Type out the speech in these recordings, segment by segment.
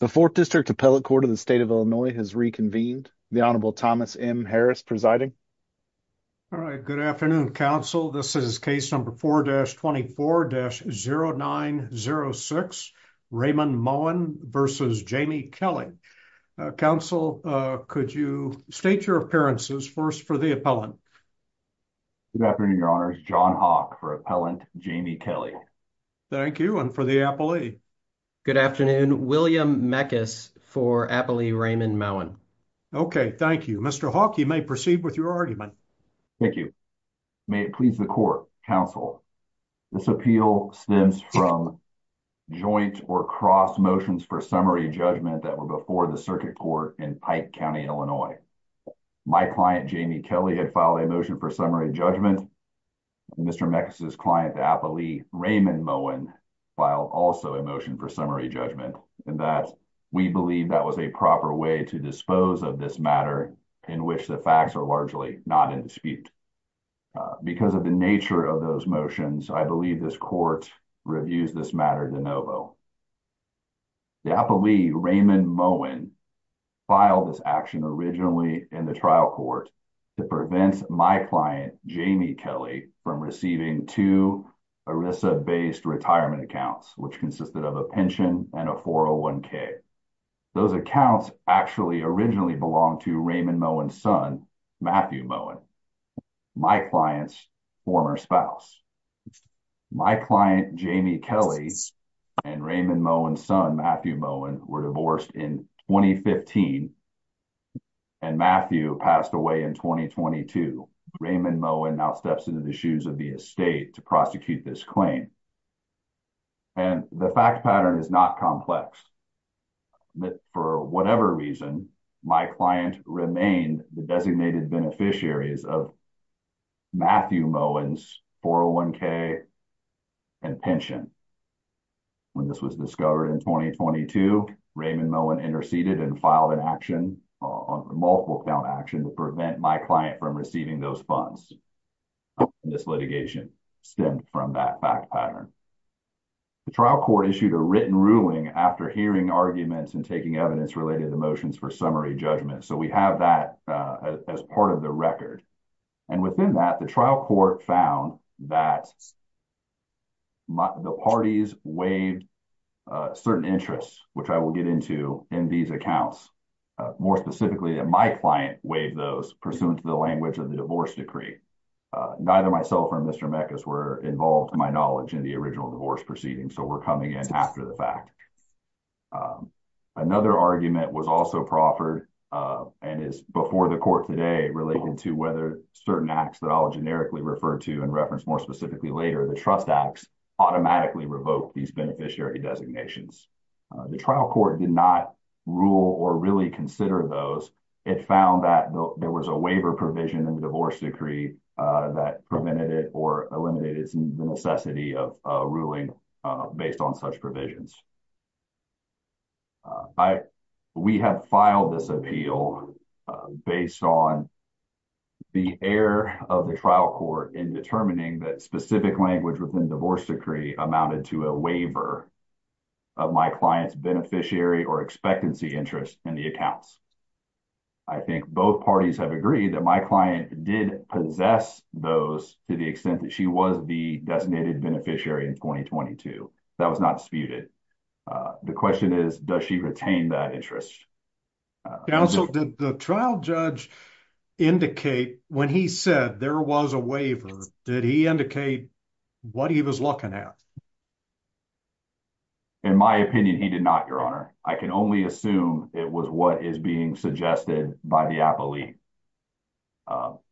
The 4th District Appellate Court of the State of Illinois has reconvened. The Honorable Thomas M. Harris presiding. All right, good afternoon, counsel. This is case number 4-24-0906, Raymond Mowen v. Jamie Kelly. Counsel, could you state your appearances? First, for the appellant. Good afternoon, your honors. John Hawk for appellant Jamie Kelly. Thank you, and for the appellee. Good afternoon, William Meckes for appellee Raymond Mowen. Okay, thank you. Mr. Hawk, you may proceed with your argument. Thank you. May it please the court, counsel, this appeal stems from joint or cross motions for summary judgment that were before the circuit court in Pike County, Illinois. My client, Jamie Kelly, had filed a motion for summary judgment. Mr. Meckes' client, Raymond Mowen, filed also a motion for summary judgment. We believe that was a proper way to dispose of this matter in which the facts are largely not in dispute. Because of the nature of those motions, I believe this court reviews this matter de novo. The appellee, Raymond Mowen, filed this action originally in the trial court to prevent my client, Jamie Kelly, from receiving two ERISA-based retirement accounts, which consisted of a pension and a 401K. Those accounts actually originally belonged to Raymond Mowen's son, Matthew Mowen, my client's former spouse. My client, Jamie Kelly, and Raymond Mowen's son, Matthew Mowen, were divorced in 2015 and Matthew passed away in 2022. Raymond Mowen now steps into the shoes of the estate to prosecute this claim. The fact pattern is not complex. For whatever reason, my client remained the designated beneficiaries of Matthew Mowen's 401K and pension. When this was discovered in 2022, Raymond Mowen interceded and filed a multiple count action to prevent my client from receiving those funds. This litigation stemmed from that fact pattern. The trial court issued a written ruling after hearing arguments and taking evidence related to the motions for summary judgment. So, we have that as part of the record. Within that, the trial court found that the parties waived certain interests, which I will get into in these accounts. More specifically, that my client waived those pursuant to the language of the divorce decree. Neither myself or Mr. Meckes were involved, to my knowledge, in the original divorce proceeding. So, we're coming in after the fact. Another argument was also proffered and is before the court today related to whether certain acts that I'll generically refer to and reference more later, the trust acts, automatically revoked these beneficiary designations. The trial court did not rule or really consider those. It found that there was a waiver provision in the divorce decree that prevented it or eliminated the necessity of ruling based on such provisions. We have filed this appeal based on the error of the trial court in determining that specific language within divorce decree amounted to a waiver of my client's beneficiary or expectancy interest in the accounts. I think both parties have agreed that my client did possess those to the extent that she was the designated beneficiary in 2022. That was not disputed. The question is, does she retain that interest? Counsel, did the trial judge indicate, when he said there was a waiver, did he indicate what he was looking at? In my opinion, he did not, Your Honor. I can only assume it was what is being suggested by the appellee.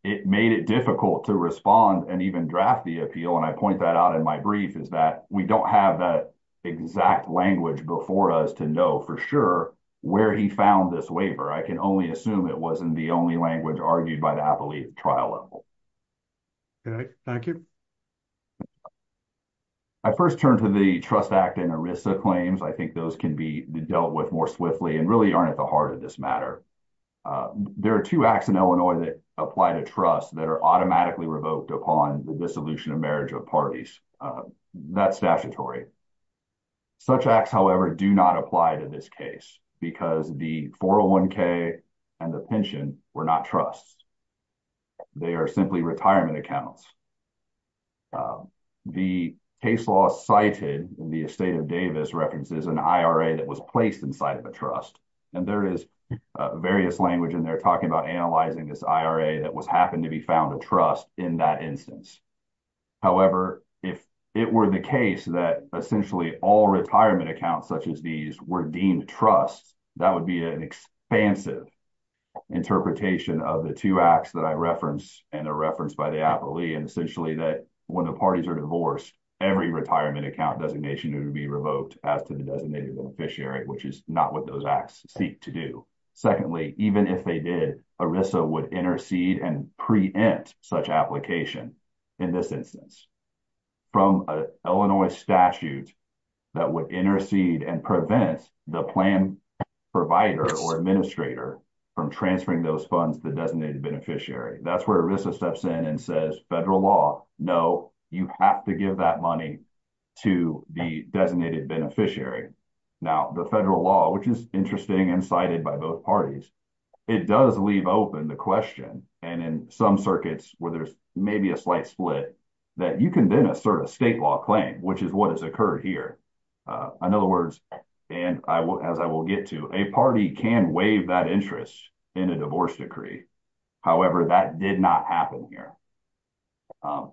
It made it difficult to respond and even draft the appeal, and I point that out in my brief, is that we don't have that exact language before us to know for sure where he found this waiver. I can only assume it wasn't the only language argued by the appellee at trial level. Okay, thank you. I first turned to the trust act and ERISA claims. I think those can be dealt with more swiftly and really aren't at the heart of this matter. There are two acts in Illinois that apply to trust that are automatically revoked upon the dissolution of marriage of parties. That's statutory. Such acts, however, do not apply to this case because the 401k and the pension were not trusts. They are simply retirement accounts. The case law cited in the estate of Davis references an IRA that was placed inside of a trust, and there is various language in there talking about analyzing this IRA that was found a trust in that instance. However, if it were the case that essentially all retirement accounts such as these were deemed trusts, that would be an expansive interpretation of the two acts that I referenced and are referenced by the appellee, and essentially that when the parties are divorced, every retirement account designation would be revoked as to the designated officiary, which is not what those acts seek to do. Secondly, even if they did, ERISA would intercede and preempt such application in this instance from an Illinois statute that would intercede and prevent the plan provider or administrator from transferring those funds to the designated beneficiary. That's where ERISA steps in and says federal law, no, you have to give that money to the designated beneficiary. Now, the federal law, which is interesting and cited by both parties, it does leave open the question, and in some circuits where there's maybe a slight split, that you can then assert a state law claim, which is what has occurred here. In other words, and as I will get to, a party can waive that interest in a divorce decree. However, that did not happen here.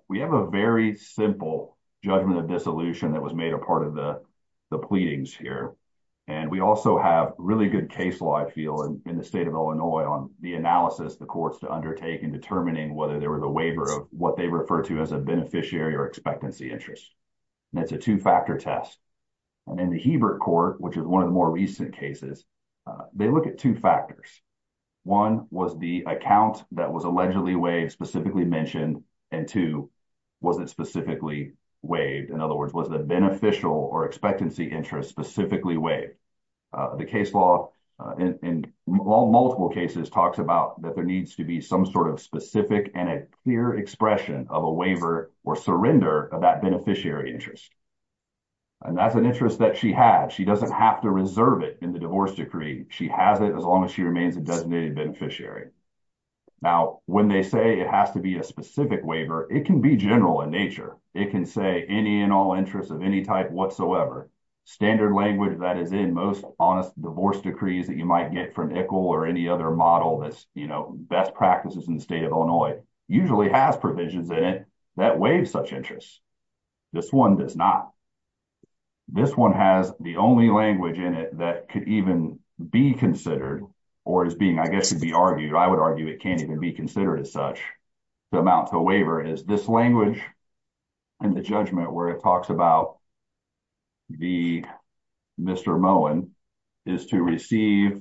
We have a very simple judgment of dissolution that was made a part of the pleadings here, and we also have really good case law, I feel, in the state of Illinois on the analysis the courts to undertake in determining whether there was a waiver of what they refer to as a beneficiary or expectancy interest. That's a two-factor test. In the Hebert Court, which is one of the more recent cases, they look at two factors. One was the account that was allegedly waived specifically mentioned, and two, was it specifically waived? In other words, was the beneficial or expectancy interest specifically waived? The case law, in multiple cases, talks about that there needs to be some sort of specific and a clear expression of a waiver or surrender of that beneficiary interest. And that's an interest that she had. She doesn't have to reserve it in the divorce decree. She has it as long as she remains a designated beneficiary. Now, when they say it has to be a specific waiver, it can be general in nature. It can say any and all interests of any type whatsoever. Standard language that is in most honest divorce decrees that you might get from ICL or any other model that's best practices in the state of Illinois usually has provisions in it that waive such interests. This one does not. This one has the only language in it that could even be considered or is being, I guess, to be argued, I would argue it can't even be considered as such to amount to a waiver. It is this language in the judgment where it talks about the Mr. Moen is to receive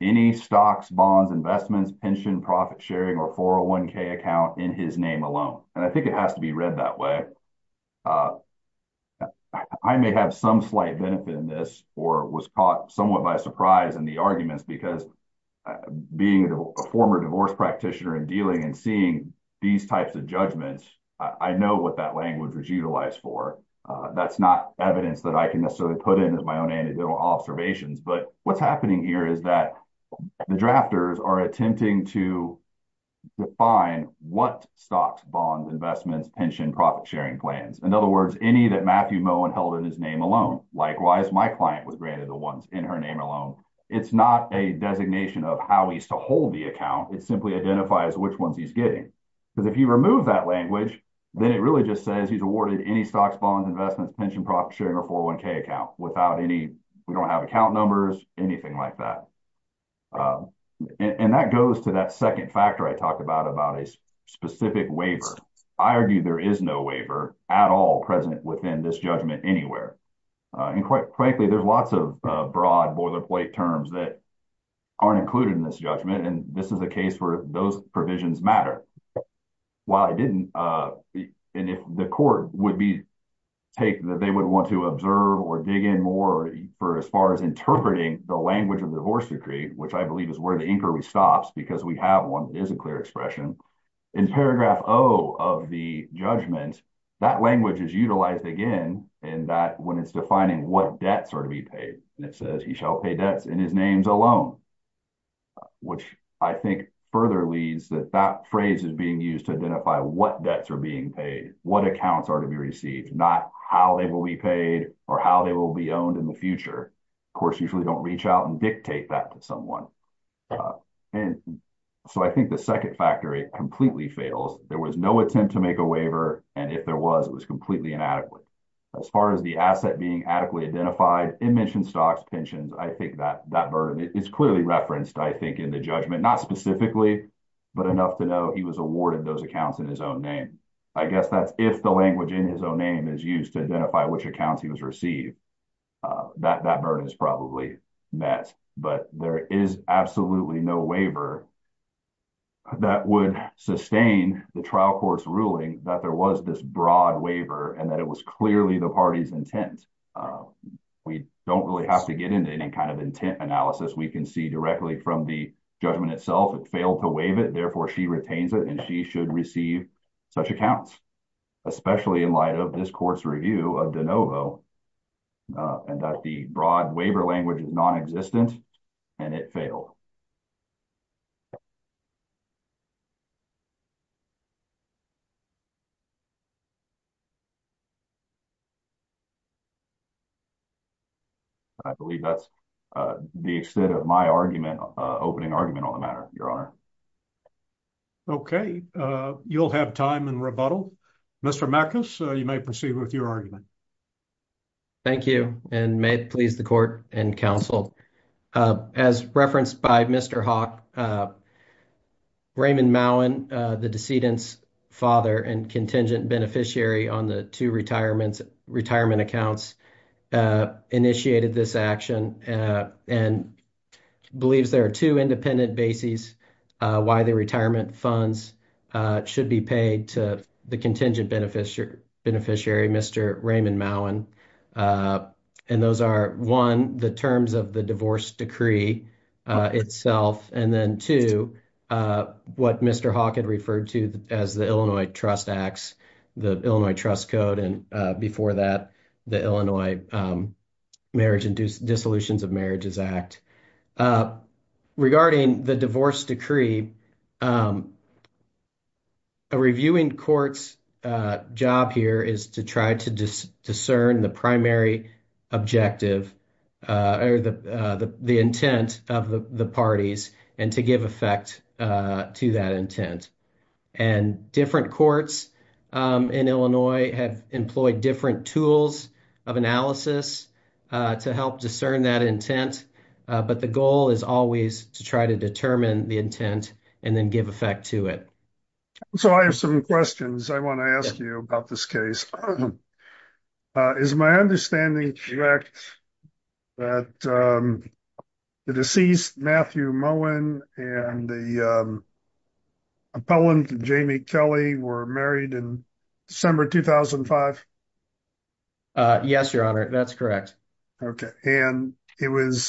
any stocks, bonds, investments, pension, profit sharing, or 401k account in his name alone. And I think it has to be read that way. I may have some slight benefit in this or was caught somewhat by surprise in the arguments because being a former divorce practitioner and dealing and seeing these types of judgments, I know what that language was utilized for. That's not evidence that I can necessarily put in as my own anecdotal observations. But what's happening here is that the drafters are attempting to define what stocks, bonds, investments, pension, profit sharing plans. In other words, any that Matthew Moen held in his name alone. Likewise, my client was granted the ones in her name alone. It's not a designation of how he's to hold the account. It simply identifies which ones he's getting. Because if you remove that language, then it really just says he's awarded any stocks, bonds, investments, pension, profit sharing, or 401k account without any, we don't have account numbers, anything like that. And that goes to that second factor I talked about, about a specific waiver. I argue there is no waiver at all present within this judgment anywhere. And quite frankly, there's lots of broad boilerplate terms that aren't included in this judgment. And this is a case where those provisions matter. While I didn't, and if the court would be, take that they would want to observe or dig in more for as far as interpreting the language of divorce decree, which I believe is where the inquiry stops because we have one that is a clear expression. In paragraph O of the judgment, that language is utilized again, and that when it's defining what debts are to be paid, and it says he shall pay debts in his names alone, which I think further leads that that phrase is being used to identify what debts are being paid, what accounts are to be received, not how they will be paid or how they will be owned in the future. Of course, usually don't reach out and dictate that to someone. And so I think the second factor completely fails. There was no attempt to if there was, it was completely inadequate. As far as the asset being adequately identified, it mentioned stocks, pensions. I think that that burden is clearly referenced, I think, in the judgment, not specifically, but enough to know he was awarded those accounts in his own name. I guess that's if the language in his own name is used to identify which accounts he was received, that burden is probably met. But there is absolutely no waiver that would sustain the trial court's ruling that there was this broad waiver and that it was clearly the party's intent. We don't really have to get into any kind of intent analysis. We can see directly from the judgment itself, it failed to waive it, therefore she retains it, and she should receive such accounts, especially in light of this court's review of de novo, and that the broad waiver language is non-existent, and it failed. I believe that's the extent of my argument, opening argument on the matter, Your Honor. Okay, you'll have time in rebuttal. Mr. Mackus, you may proceed with your argument. Thank you, and may it please the court and counsel. As referenced by Mr. Hawk, Raymond Mowen, the decedent's father and contingent beneficiary on the two retirement accounts, initiated this action and believes there are two independent bases why the retirement funds should be paid to the contingent beneficiary, Mr. Raymond Mowen, and those are, one, the terms of the divorce decree itself, and then, two, what Mr. Hawk had referred to as the Illinois Trust Acts, the Illinois Trust Code, and before that, the Illinois Marriage and Dissolutions of Marriages Act. Regarding the divorce decree, a reviewing court's job here is to try to discern the primary objective, or the intent, of the parties and to give effect to that intent, and different courts in Illinois have employed different tools of analysis to help discern that intent, but the goal is always to try to determine the intent and then give effect to it. So, I have some questions I want to ask you about this case. Is my understanding correct that the deceased, Matthew Mowen, and the appellant, Jamie Kelly, were married in December 2005? Yes, Your Honor, that's correct. Okay, and it was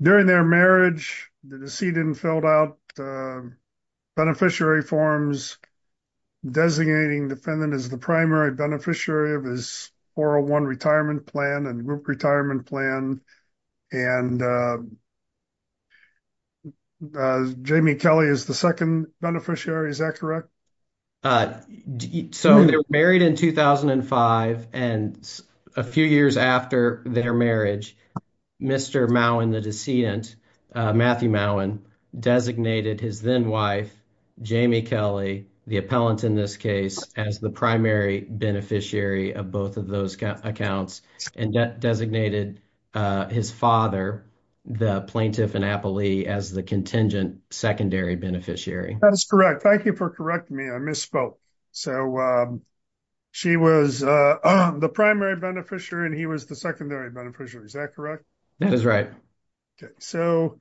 during their marriage, the decedent filled out beneficiary forms designating the defendant as the primary beneficiary of his 401 retirement plan and group retirement plan, and Jamie Kelly is the second beneficiary, is that correct? So, they were married in 2005, and a few years after their marriage, Mr. Mowen, the decedent, Matthew Mowen, designated his then-wife, Jamie Kelly, the appellant in this case, as the primary beneficiary of both of those accounts, and designated his father, the plaintiff in Appalee, as the contingent secondary beneficiary. That is correct. Thank you for correcting me, I misspoke. So, she was the primary beneficiary and he was the secondary beneficiary, is that correct? That is right. Okay, so,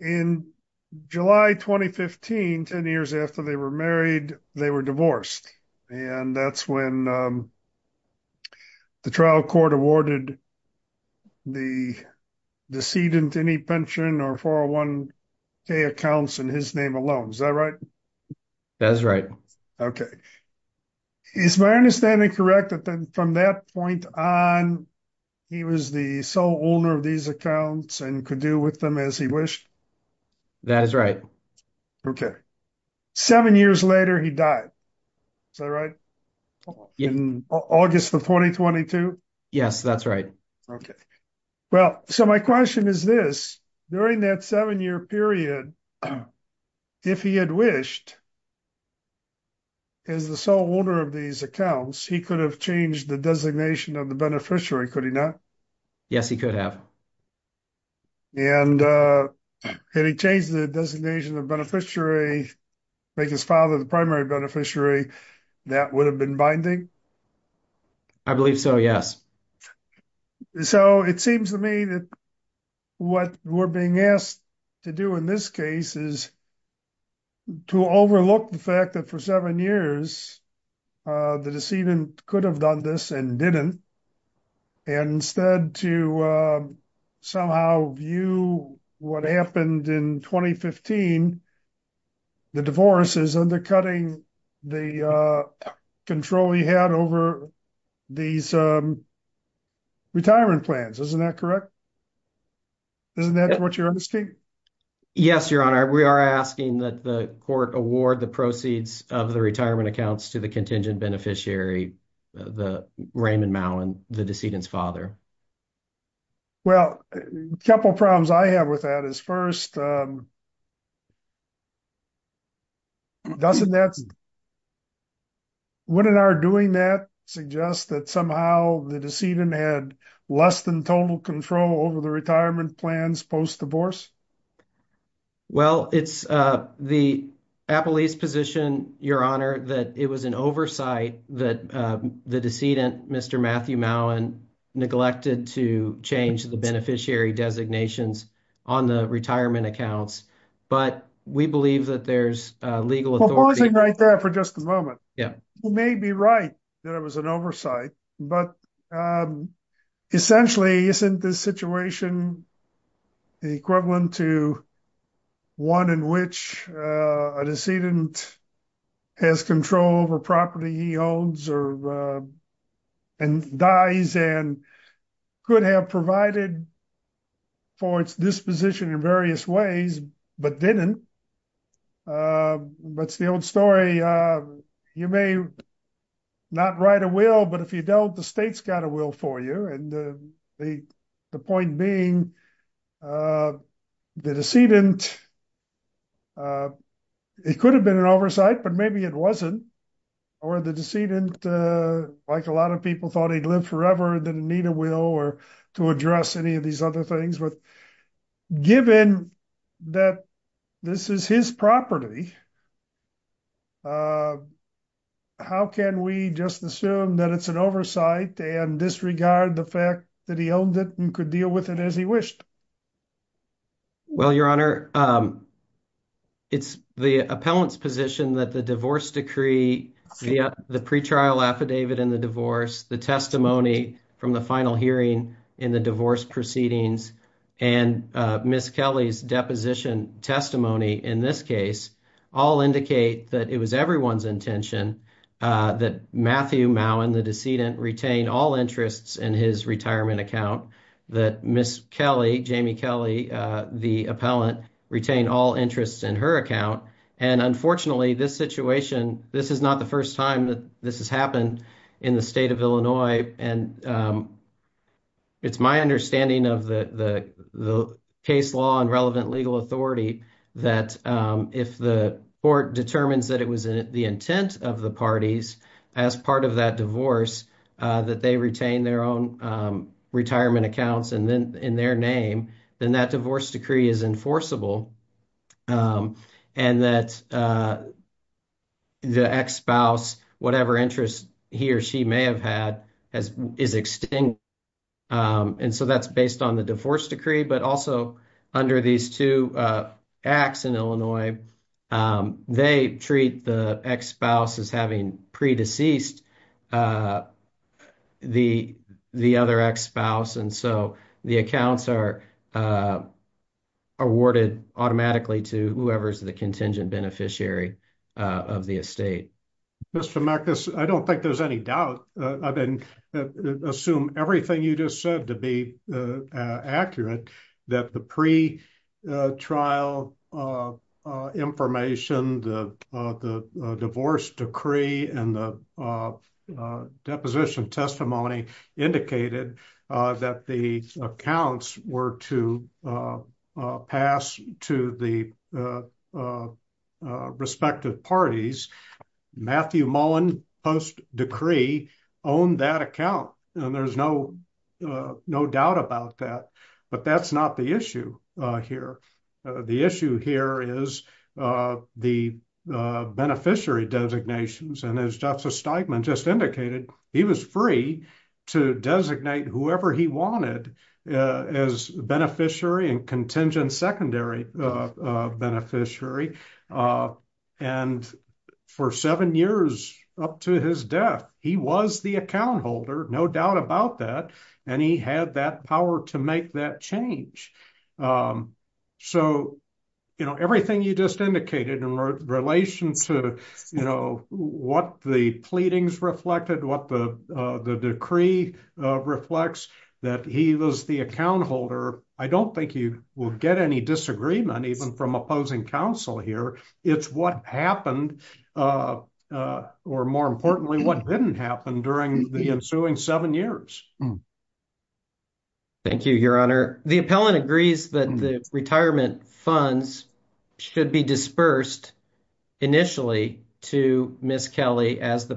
in July 2015, 10 years after they were married, they were divorced, and that's when the trial court awarded the decedent any pension or 401k accounts in his name alone, is that right? That is right. Okay, is my understanding correct that then from that point on, he was the sole owner of these accounts and could do with them as he wished? That is right. Okay, seven years later, he died, is that right? In August of 2022? Yes, that's right. Okay, well, so my question is this, during that seven-year period, if he had wished, as the sole owner of these accounts, he could have changed the designation of the beneficiary, could he not? Yes, he could have. And had he changed the designation of beneficiary, make his father the primary beneficiary, that would have been binding? I believe so, yes. So, it seems to me that what we're being asked to do in this case is to overlook the fact that for seven years, the decedent could have done this and didn't, and instead to somehow view what happened in 2015, the divorce is undercutting the control he had over these retirement plans, isn't that correct? Isn't that what you're asking? Yes, Your Honor, we are asking that the court award the proceeds of the retirement accounts to the contingent beneficiary, Raymond Mallon, the decedent's father. Well, a couple of problems I have with that is first, wouldn't our doing that suggest that somehow the decedent had less than total control over the retirement plans post-divorce? Well, it's the appellee's position, Your Honor, that it was an oversight that the decedent, Mr. Matthew Mallon, neglected to change the beneficiary designations on the retirement accounts, but we believe that there's a legal authority- Well, pause it right there for just a moment. Yeah. You may be right that it was an oversight, but essentially, isn't this situation the equivalent to one in which a decedent has control over property he owns and dies and could have provided for its disposition in various ways, but didn't? What's the old story? You may not write a will, but if you don't, the state's got a will for you. The point being, the decedent, it could have been an oversight, but maybe it wasn't, or the decedent, like a lot of people, thought he'd live forever and didn't need a will or to address any of these other things. Given that this is his property, how can we just assume that it's an oversight and disregard the fact that he owned it and could deal with it as he wished? Well, Your Honor, it's the appellant's position that the divorce decree, the pretrial affidavit in the divorce, the testimony from the final hearing in the divorce proceedings, and Ms. Kelly's deposition testimony in this case, all indicate that it was everyone's intention that Matthew Mowen, the decedent, retain all interests in his retirement account, that Ms. Kelly, Jamie Kelly, the appellant, retain all interests in her account. Unfortunately, this situation, this is not the first time that this has happened in the state of Illinois. It's my understanding of the case law and relevant legal authority that if the court determines that it was the intent of the parties as part of that divorce, that they retain their own retirement accounts in their name, then that divorce decree is enforceable and that the ex-spouse, whatever interest he or she may have had, is extinguished. So that's based on the divorce decree. But also, under these two acts in Illinois, they treat the ex-spouse as having pre-deceased the other ex-spouse. And so the accounts are awarded automatically to whoever's the contingent beneficiary of the estate. Mr. Mekas, I don't think there's any doubt. I mean, assume everything you just said to be accurate, that the pre-trial information, the divorce decree, and the deposition testimony indicated that the accounts were to pass to the respective parties. Matthew Mullen post-decree owned that account, and there's no doubt about that. But that's not the issue here. The issue here is the beneficiary designations. And as Justice Steigman just indicated, he was free to designate whoever he wanted as beneficiary and contingent secondary beneficiary. And for seven years up to his death, he was the account holder, no doubt about that. And he had that power to make that change. So everything you just indicated in relation to what the pleadings reflected, what the decree reflects, that he was the account holder. I don't think you will get any disagreement even from opposing counsel here. It's what happened, or more importantly, what didn't happen during the ensuing seven years. Thank you, Your Honor. The appellant agrees that the retirement funds should be dispersed initially to Miss Kelly as the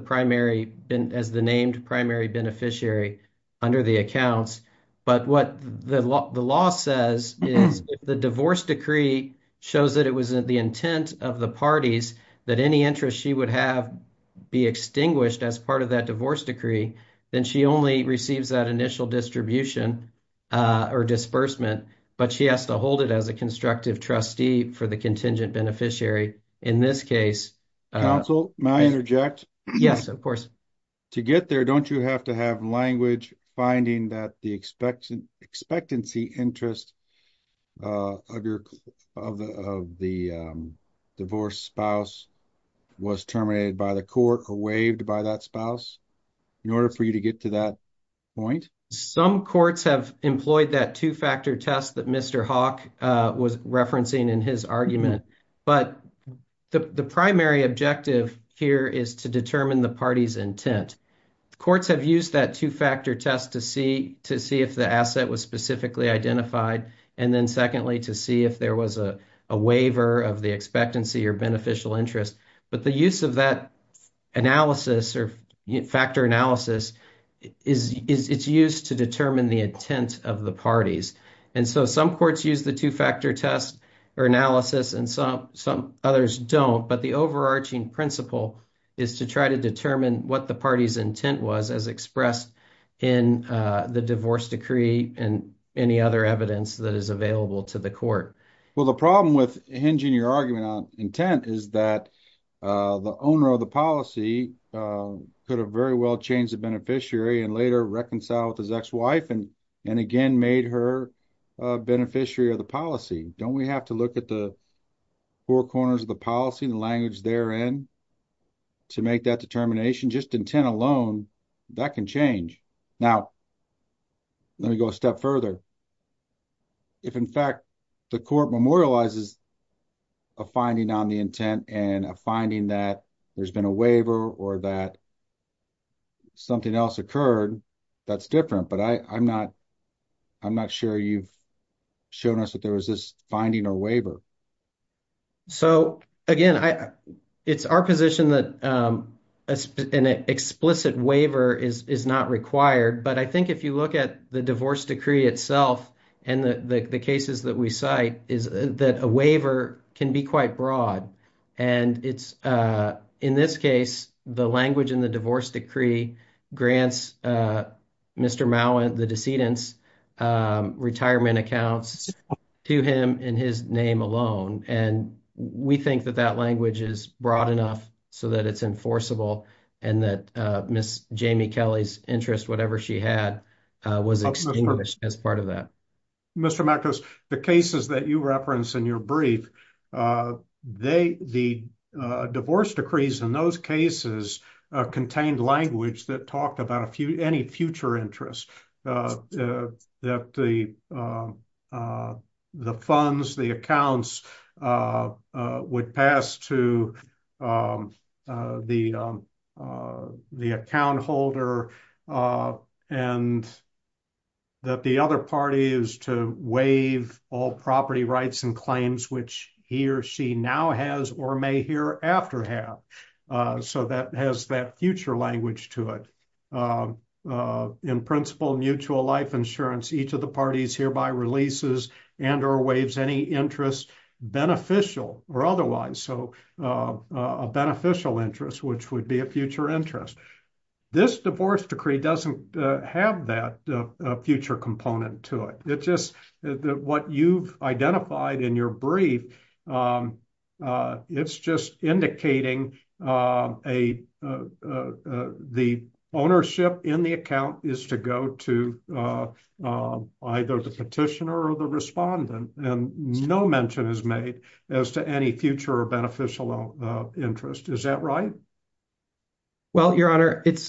named primary beneficiary under the accounts. But what the law says is the divorce decree shows that it was the intent of the parties that any interest she would have be extinguished as part of that divorce decree. Then she only receives that initial distribution or disbursement. But she has to hold it as a constructive trustee for the contingent beneficiary. In this case... Counsel, may I interject? Yes, of course. To get there, don't you have to have language finding that the expectancy interest of the divorced spouse was terminated by the court or waived by that spouse in order for you to get to that point? Some courts have employed that two-factor test that Mr. Hawk was referencing in his argument. But the primary objective here is to determine the party's intent. Courts have used that two-factor test to see if the asset was specifically identified. And then secondly, to see if there was a waiver of the expectancy or beneficial interest. But the use of that analysis or factor analysis is used to determine the intent of the parties. And so some courts use the two-factor test or analysis and some others don't. But the overarching principle is to try to determine what the party's intent was as expressed in the divorce decree and any other evidence that is available to the court. Well, the problem with hinging your argument on intent is that the owner of the policy could have very well changed the beneficiary and later reconciled with his ex-wife and again made her a beneficiary of the policy. Don't we have to look at the four corners of the policy, the language therein, to make that determination? Just intent alone, that can change. Now, let me go a step further. If in fact the court memorializes a finding on the intent and a finding that there's been a waiver or that something else occurred, that's different. But I'm not sure you've shown us that there was this finding or waiver. So again, it's our position that an explicit waiver is not required. But I think if you look at the divorce decree itself and the cases that we cite, is that a waiver can be quite broad. And it's in this case, the language in the divorce decree grants Mr. Mowen, the decedent's retirement accounts to him in his name alone. And we think that that language is broad enough so that it's enforceable and that Ms. Jamie Kelly's interest, whatever she had, was extinguished as part of that. Mr. Matkus, the cases that you referenced in your brief, the divorce decrees in those cases contained language that talked about any future interest. That the funds, the accounts would pass to the account holder and that the other party is to waive all property rights and claims, which he or she now has or may hereafter have. So that has that future language to it. In principle, mutual life insurance, each of the parties hereby releases and or waives any interest beneficial or otherwise. So a beneficial interest, which would be a future interest. This divorce decree doesn't have that future component to it. It's just that what you've identified in your brief, it's just indicating the ownership in the account is to go to either the petitioner or the respondent, and no mention is made as to any future or beneficial interest. Is that right? Well, Your Honor, it's,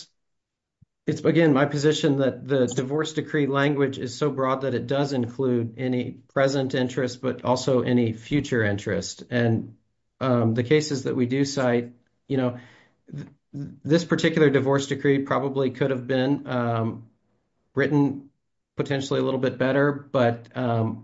again, my position that the divorce decree language is so broad that it does include any present interest, but also any future interest. And the cases that we do cite, you know, this particular divorce decree probably could have been written potentially a little bit better. But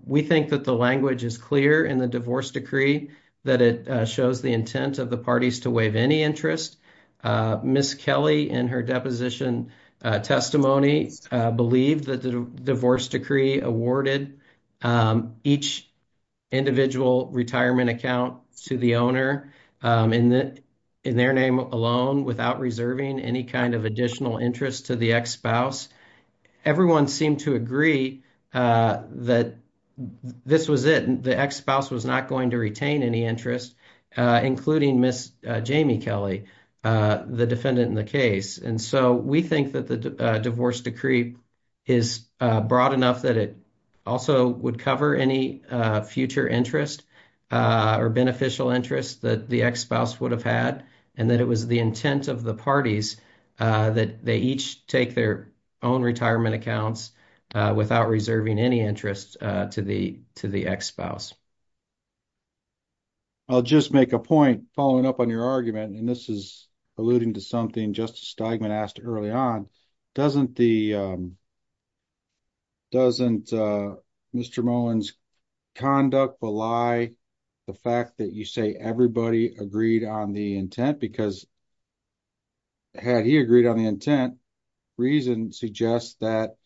we think that the language is clear in the divorce decree that it shows the intent of the parties to waive any interest. Ms. Kelly, in her deposition testimony, believed that the divorce decree awarded each individual retirement account to the owner in their name alone without reserving any kind of additional interest to the ex-spouse. Everyone seemed to agree that this was it. The ex-spouse was not going to retain any interest, including Ms. Jamie Kelly. The defendant in the case. And so we think that the divorce decree is broad enough that it also would cover any future interest or beneficial interest that the ex-spouse would have had, and that it was the intent of the parties that they each take their own retirement accounts without reserving any interest to the ex-spouse. I'll just make a point following up on your argument. And this is alluding to something Justice Steigman asked early on. Doesn't Mr. Mullen's conduct belie the fact that you say everybody agreed on the intent? Because had he agreed on the intent, reason suggests that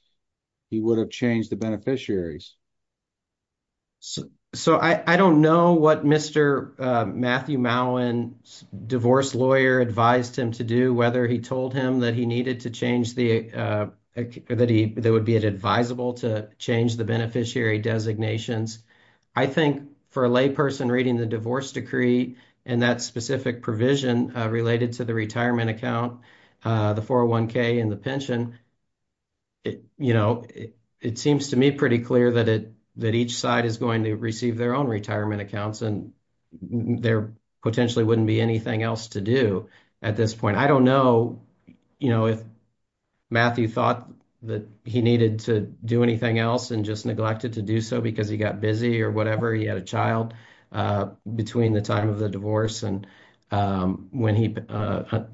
he would have changed the beneficiaries. So, I don't know what Mr. Matthew Mullen's divorce lawyer advised him to do, whether he told him that he needed to change the, that he, that would be advisable to change the beneficiary designations. I think for a layperson reading the divorce decree and that specific provision related to the retirement account, the 401k and the pension, you know, it seems to me pretty clear that each side is going to receive their own retirement accounts and there potentially wouldn't be anything else to do at this point. I don't know, you know, if Matthew thought that he needed to do anything else and just neglected to do so because he got busy or whatever. He had a child between the time of the divorce and when he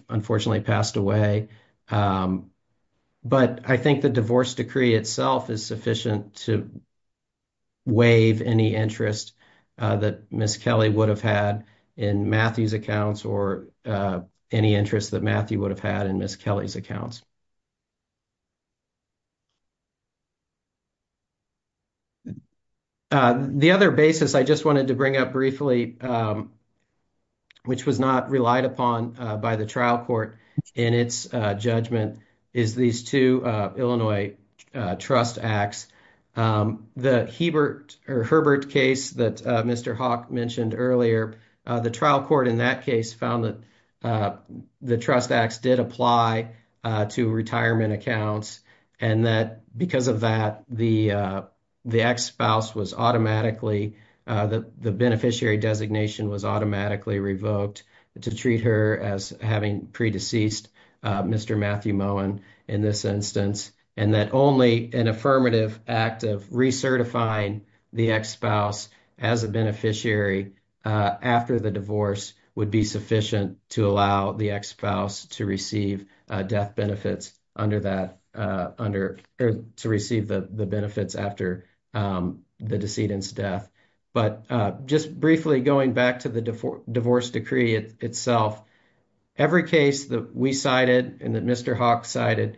unfortunately passed away. But I think the divorce decree itself is sufficient to waive any interest that Ms. Kelly would have had in Matthew's accounts or any interest that Matthew would have had in Ms. Kelly's accounts. The other basis I just wanted to bring up briefly, which was not relied upon by the trial court in its judgment, is these two Illinois trust acts. The Herbert case that Mr. Hawk mentioned earlier, the trial court in that case found that the trust acts did apply to retirement accounts and that because of that, the beneficiary designation was automatically revoked to treat her as having pre-deceased Mr. Matthew Moen in this instance. And that only an affirmative act of recertifying the ex-spouse as a beneficiary after the divorce would be sufficient to allow the ex-spouse to receive the benefits after the decedent's death. But just briefly going back to the divorce decree itself, every case that we cited and that Mr. Hawk cited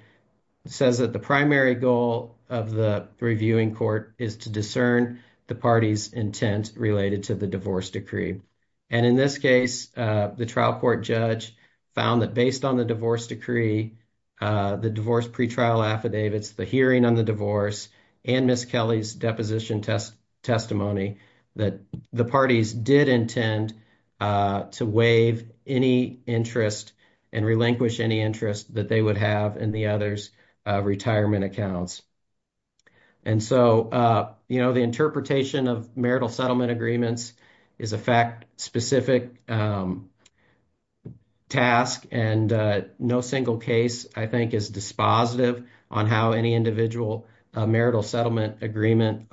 says that the primary goal of the reviewing court is to discern the party's intent related to the divorce decree. And in this case, the trial court judge found that based on the divorce decree, the divorce pretrial affidavits, the hearing on the divorce, and Ms. Kelly's deposition testimony, that the parties did intend to waive any interest and relinquish any interest that they would have in the other's retirement accounts. And so, you know, the interpretation of marital settlement agreements is a fact-specific task, and no single case, I think, is dispositive on how any individual marital settlement agreement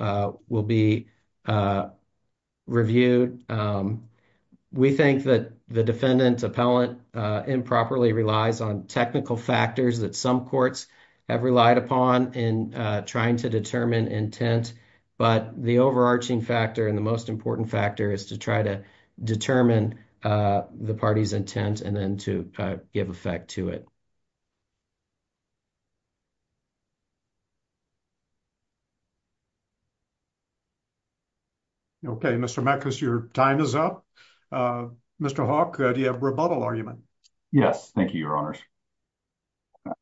will be reviewed. We think that the defendant's appellant improperly relies on technical factors that some courts have relied upon in trying to determine intent. But the overarching factor and the most important factor is to try to determine the party's intent and then to give effect to it. Okay, Mr. Mekas, your time is up. Mr. Hawk, do you have a rebuttal argument? Yes, thank you, Your Honors.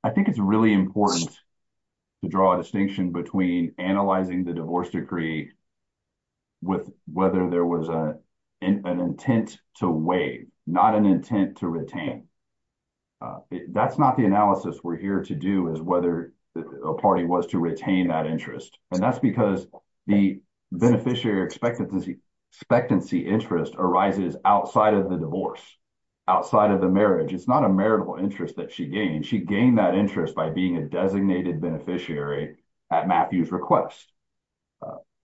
I think it's really important to draw a distinction between analyzing the divorce decree with whether there was an intent to waive, not an intent to retain. That's not the analysis we're here to do, is whether a party was to retain that interest. And that's because the beneficiary expectancy interest arises outside of the divorce, outside of the marriage. It's not a marital interest that she gained. She gained that interest by being a designated beneficiary at Matthew's request.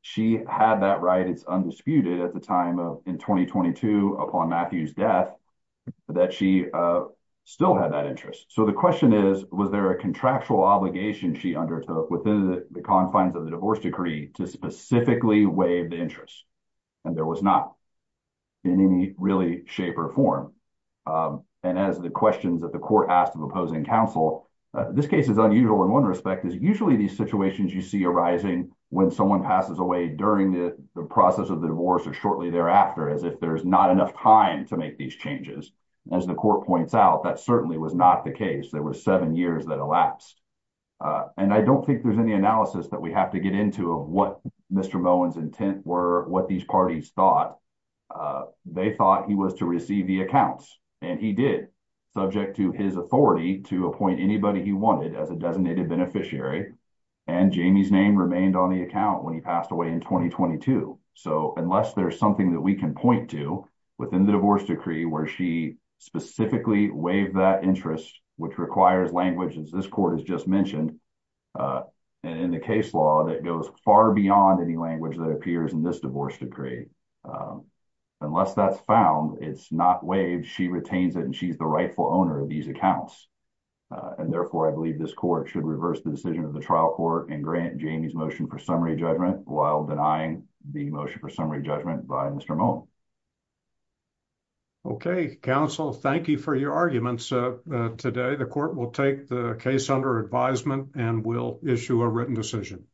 She had that right, it's undisputed, at the time of, in 2022, upon Matthew's death, that she still had that interest. So the question is, was there a contractual obligation she undertook within the confines of the divorce decree to specifically waive the interest? And there was not in any really shape or form. And as the questions that the court asked of opposing counsel, this case is unusual in one respect, is usually these situations you see arising when someone passes away during the process of the divorce or shortly thereafter, as if there's not enough time to make these changes. As the court points out, that certainly was not the case. There were seven years that elapsed. And I don't think there's any analysis that we have to get into of what Mr. Moen's intent were, what these parties thought. They thought he was to receive the accounts. And he did, subject to his authority to appoint anybody he wanted as a designated beneficiary. And Jamie's name remained on the account when he passed away in 2022. So unless there's something that we can point to within the divorce decree, where she specifically waived that interest, which requires language, as this court has just mentioned, in the case law, that goes far beyond any language that appears in this divorce decree. Unless that's found, it's not waived. She retains it and she's the rightful owner of these accounts. And therefore, I believe this court should reverse the decision of the trial court and grant Jamie's motion for summary judgment, while denying the motion for summary judgment by Mr. Moen. Okay, counsel, thank you for your arguments today. The court will take the case under advisement and will issue a written decision.